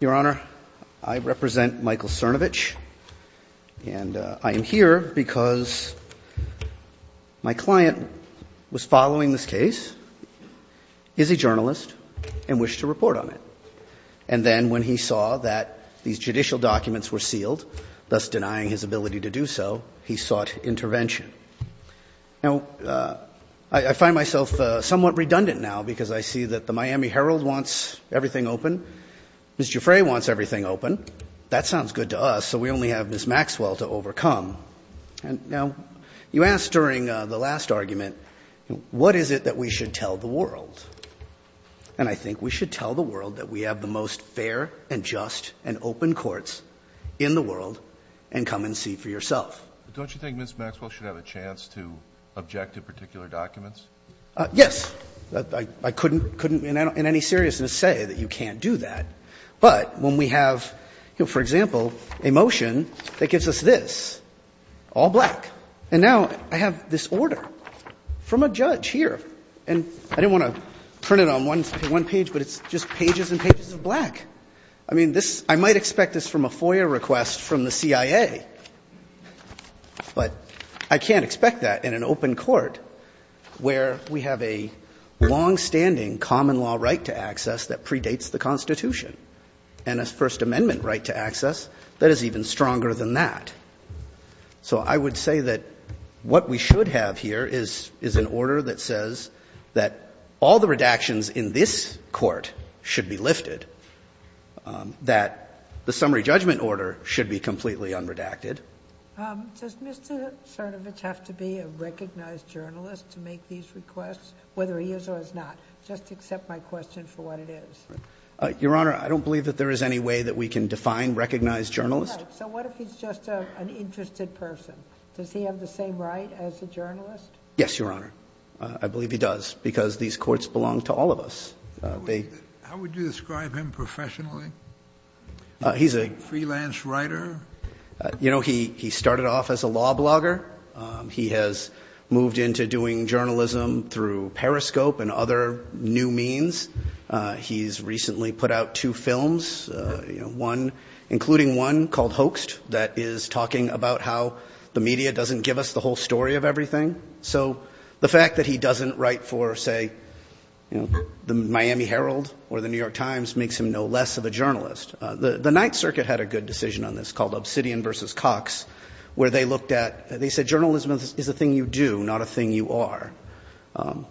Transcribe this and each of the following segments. Your Honor, I represent Michael Cernovich, and I am here because my client was following this case, is a journalist, and wished to report on it. And then when he saw that these judicial documents were sealed, thus denying his ability to do so, he sought intervention. Now, I find myself somewhat redundant now, because I see that the case is open. Mr. Giuffre wants everything open. That sounds good to us, so we only have Ms. Maxwell to overcome. Now, you asked during the last argument, what is it that we should tell the world? And I think we should tell the world that we have the most fair and just and open courts in the world, and come and see for yourself. But don't you think Ms. Maxwell should have a chance to object to particular documents? Yes. I couldn't in any seriousness say that you can't do that. But when we have, you know, for example, a motion that gives us this, all black, and now I have this order from a judge here. And I didn't want to print it on one page, but it's just pages and pages of black. I mean, this — I might expect this from a FOIA request from the CIA, but I can't expect that in an open court where we have a longstanding common law right to access that predates the Constitution, and a First Amendment right to access that is even stronger than that. So I would say that what we should have here is an order that says that all the redactions in this court should be lifted, that the summary judgment order should be completely unredacted. Does Mr. Cernovich have to be a recognized journalist to make these requests, whether he is or is not? Just accept my question for what it is. Your Honor, I don't believe that there is any way that we can define recognized journalist. Right. So what if he's just an interested person? Does he have the same right as a journalist? Yes, Your Honor. I believe he does, because these courts belong to all of us. How would you describe him professionally? He's a — A freelance writer? You know, he started off as a law blogger. He has moved into doing journalism through Periscope and other new means. He's recently put out two films, one — including one called Hoaxed, that is talking about how the media doesn't give us the whole story of everything. So the fact that he doesn't write for, say, the Miami Herald or the New York Times makes him no less of a journalist. The Ninth Circuit had a good decision on this called Obsidian v. Cox, where they looked at — they said journalism is a thing you do, not a thing you are.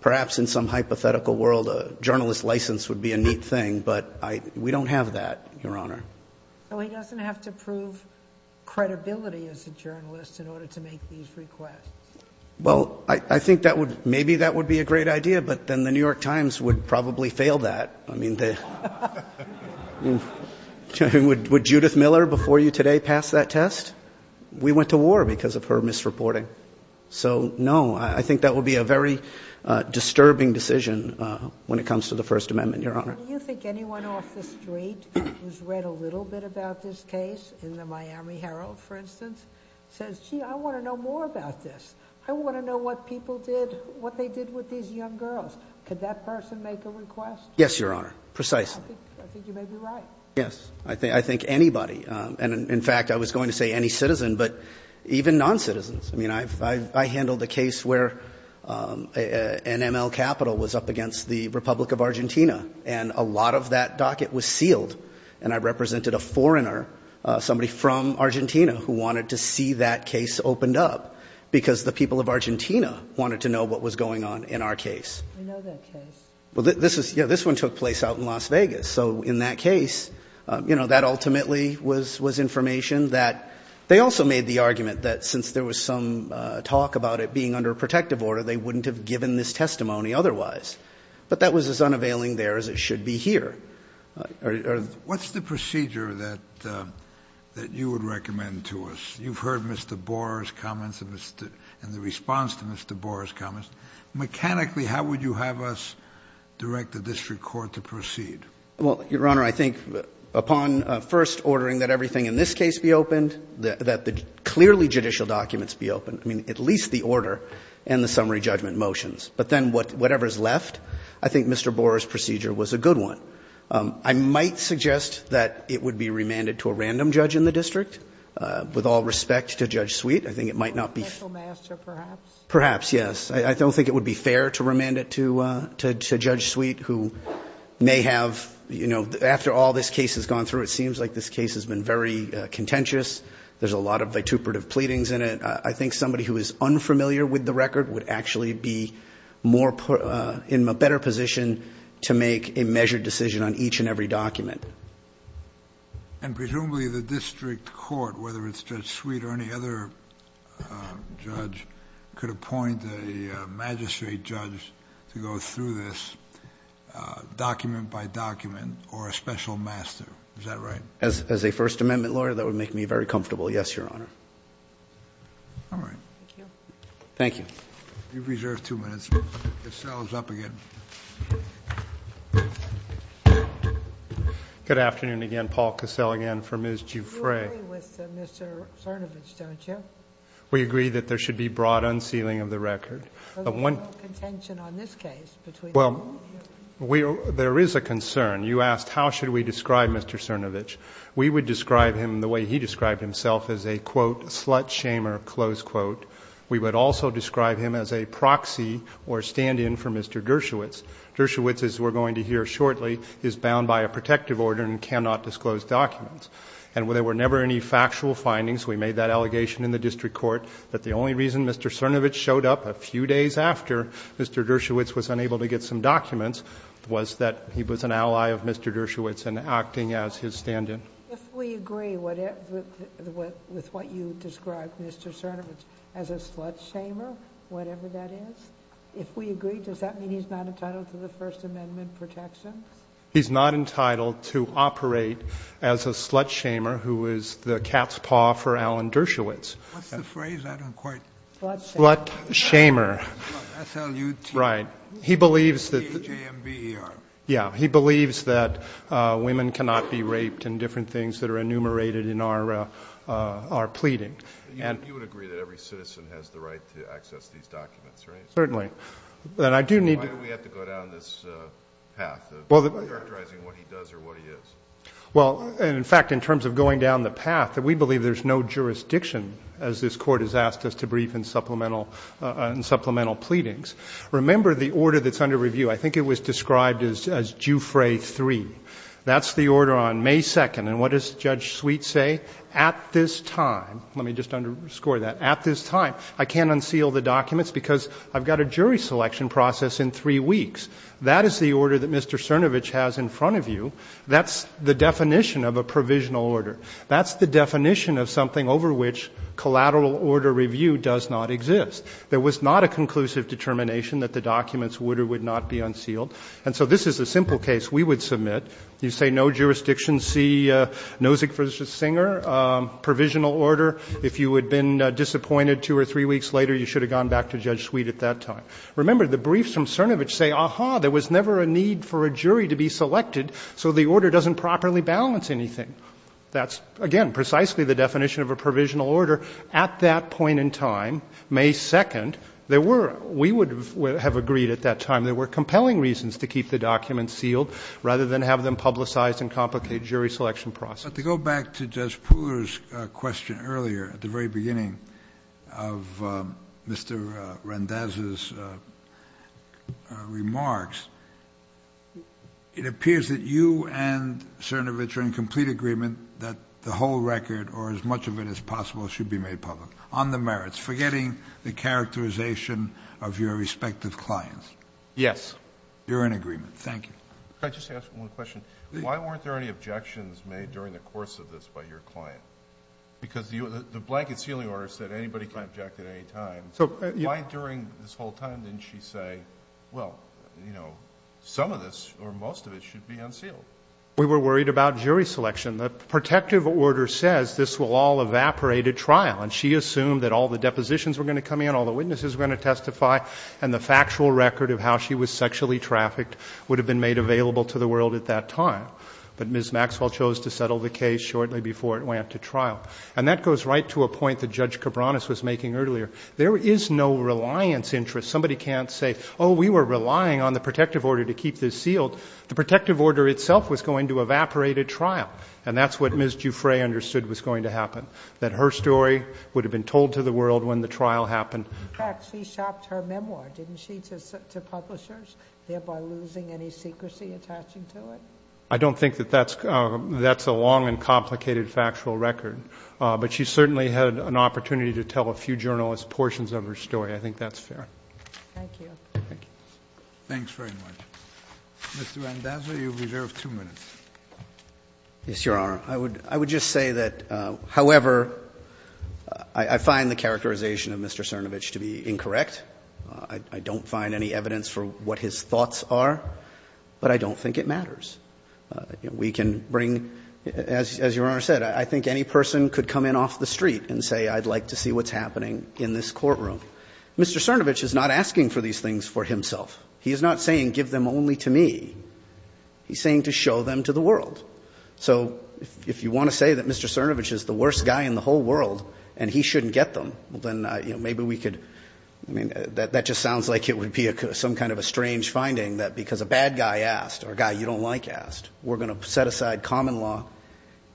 Perhaps in some hypothetical world, a journalist license would be a neat thing, but we don't have that, Your Honor. So he doesn't have to prove credibility as a journalist in order to make these requests? Well, I think that would — maybe that would be a great idea, but then the New York Times would probably fail that. I mean, would Judith Miller before you today pass that test? We went to war because of her misreporting. So, no, I think that would be a very disturbing decision when it comes to the First Amendment, Your Honor. Do you think anyone off the street who's read a little bit about this case, in the Miami Herald, for instance, says, gee, I want to know more about this. I want to know what people did, what they did with these young girls. Could that person make a request? Yes, Your Honor. Precisely. I think you may be right. Yes. I think anybody. And, in fact, I was going to say any citizen, but even noncitizens. I mean, I handled a case where NML Capital was up against the Republic of Argentina, and a lot of that docket was sealed. And I represented a foreigner, somebody from Argentina, who wanted to see that case opened up because the people of Argentina wanted to know what was going on in our case. We know that case. Well, this one took place out in Las Vegas. So, in that case, you know, that ultimately was information that they also made the argument that since there was some talk about it being under protective order, they wouldn't have given this testimony otherwise. But that was as unavailing there as it should be here. What's the procedure that you would recommend to us? You've heard Mr. Borer's comments and the response to Mr. Borer's comments. Mechanically, how would you have us direct the district court to proceed? Well, Your Honor, I think upon first ordering that everything in this case be opened, that the clearly judicial documents be opened, I mean, at least the order and the summary judgment motions. But then whatever is left, I think Mr. Borer's procedure was a good one. I might suggest that it would be remanded to a random judge in the district, with all respect to Judge Sweet. I think it might not be. A special master, perhaps? Perhaps, yes. I don't think it would be fair to remand it to Judge Sweet, who may have, you know, after all this case has gone through, it seems like this case has been very contentious. There's a lot of vituperative pleadings in it. I think somebody who is unfamiliar with the record would actually be in a better position to make a measured decision on each and every document. And presumably the district court, whether it's Judge Sweet or any other judge, could appoint a magistrate judge to go through this document by document, or a special master. Is that right? As a First Amendment lawyer, that would make me very comfortable. Yes, Your Honor. All right. Thank you. Thank you. You've reserved two minutes. Cassell is up again. Good afternoon again. Paul Cassell again for Ms. Giuffre. You agree with Mr. Sarnovich, don't you? We agree that there should be broad unsealing of the record. There's no contention on this case between the two of you. Well, there is a concern. You asked how should we describe Mr. Sarnovich. We would describe him the way he described himself as a, quote, slut shamer, close quote. We would also describe him as a proxy or stand-in for Mr. Dershowitz. Dershowitz, as we're going to hear shortly, is bound by a protective order and cannot disclose documents. And there were never any factual findings. We made that allegation in the district court that the only reason Mr. Sarnovich showed up a few days after Mr. Dershowitz was unable to get some documents was that he was an ally of Mr. Dershowitz in acting as his stand-in. If we agree with what you describe Mr. Sarnovich as a slut shamer, whatever that is, if we agree, does that mean he's not entitled to the First Amendment protections? He's not entitled to operate as a slut shamer who is the cat's paw for Alan Dershowitz. What's the phrase? I don't quite. Slut shamer. S-L-U-T. Right. He believes that. J-A-M-B-E-R. Yeah. He believes that women cannot be raped and different things that are enumerated in our pleading. You would agree that every citizen has the right to access these documents, right? Certainly. Why do we have to go down this path of characterizing what he does or what he is? Well, in fact, in terms of going down the path, we believe there's no jurisdiction as this Court has asked us to brief in supplemental pleadings. Remember the order that's under review. I think it was described as Jouffre III. That's the order on May 2nd. And what does Judge Sweet say? At this time, let me just underscore that, I can't unseal the documents because I've got a jury selection process in three weeks. That is the order that Mr. Cernovich has in front of you. That's the definition of a provisional order. That's the definition of something over which collateral order review does not exist. There was not a conclusive determination that the documents would or would not be unsealed. And so this is a simple case we would submit. You say no jurisdiction, see Nozick versus Singer, provisional order. If you had been disappointed two or three weeks later, you should have gone back to Judge Sweet at that time. Remember, the briefs from Cernovich say, aha, there was never a need for a jury to be selected, so the order doesn't properly balance anything. That's, again, precisely the definition of a provisional order. At that point in time, May 2nd, there were, we would have agreed at that time, there were compelling reasons to keep the documents sealed rather than have them publicized and complicate jury selection process. But to go back to Judge Pooler's question earlier, at the very beginning of Mr. Randazza's remarks, it appears that you and Cernovich are in complete agreement that the whole record or as much of it as possible should be made public on the merits, forgetting the characterization of your respective clients. Yes. You're in agreement. Thank you. Can I just ask one question? Why weren't there any objections made during the course of this by your client? Because the blanket sealing order said anybody can object at any time. Why during this whole time didn't she say, well, you know, some of this or most of it should be unsealed? We were worried about jury selection. The protective order says this will all evaporate at trial, and she assumed that all the depositions were going to come in, all the witnesses were going to testify, and the factual record of how she was sexually trafficked would have been made available to the world at that time. But Ms. Maxwell chose to settle the case shortly before it went to trial. And that goes right to a point that Judge Cabranes was making earlier. There is no reliance interest. Somebody can't say, oh, we were relying on the protective order to keep this sealed. The protective order itself was going to evaporate at trial. And that's what Ms. Juffray understood was going to happen, that her story would have been told to the world when the trial happened. In fact, she shopped her memoir, didn't she, to publishers, thereby losing any secrecy attaching to it? I don't think that that's a long and complicated factual record. But she certainly had an opportunity to tell a few journalists portions of her story. I think that's fair. Thank you. Thank you. Thanks very much. Mr. Randazzo, you reserve two minutes. Yes, Your Honor. I would just say that, however, I find the characterization of Mr. Cernovich to be incorrect. I don't find any evidence for what his thoughts are. But I don't think it matters. We can bring, as Your Honor said, I think any person could come in off the street and say I'd like to see what's happening in this courtroom. Mr. Cernovich is not asking for these things for himself. He is not saying give them only to me. He's saying to show them to the world. So if you want to say that Mr. Cernovich is the worst guy in the whole world and he shouldn't get them, then maybe we could, I mean, that just sounds like it would be some kind of a strange finding that because a bad guy asked or a guy you don't like asked, we're going to set aside common law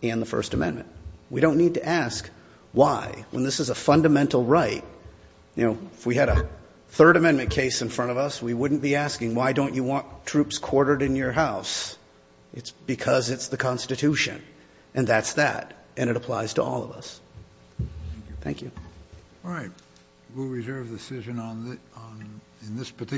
and the First Amendment. We don't need to ask why. When this is a fundamental right, you know, if we had a Third Amendment case in front of us, we wouldn't be asking why don't you want troops quartered in your house. It's because it's the Constitution. And that's that. And it applies to all of us. Thank you. All right. We'll reserve the decision on that. In this particular.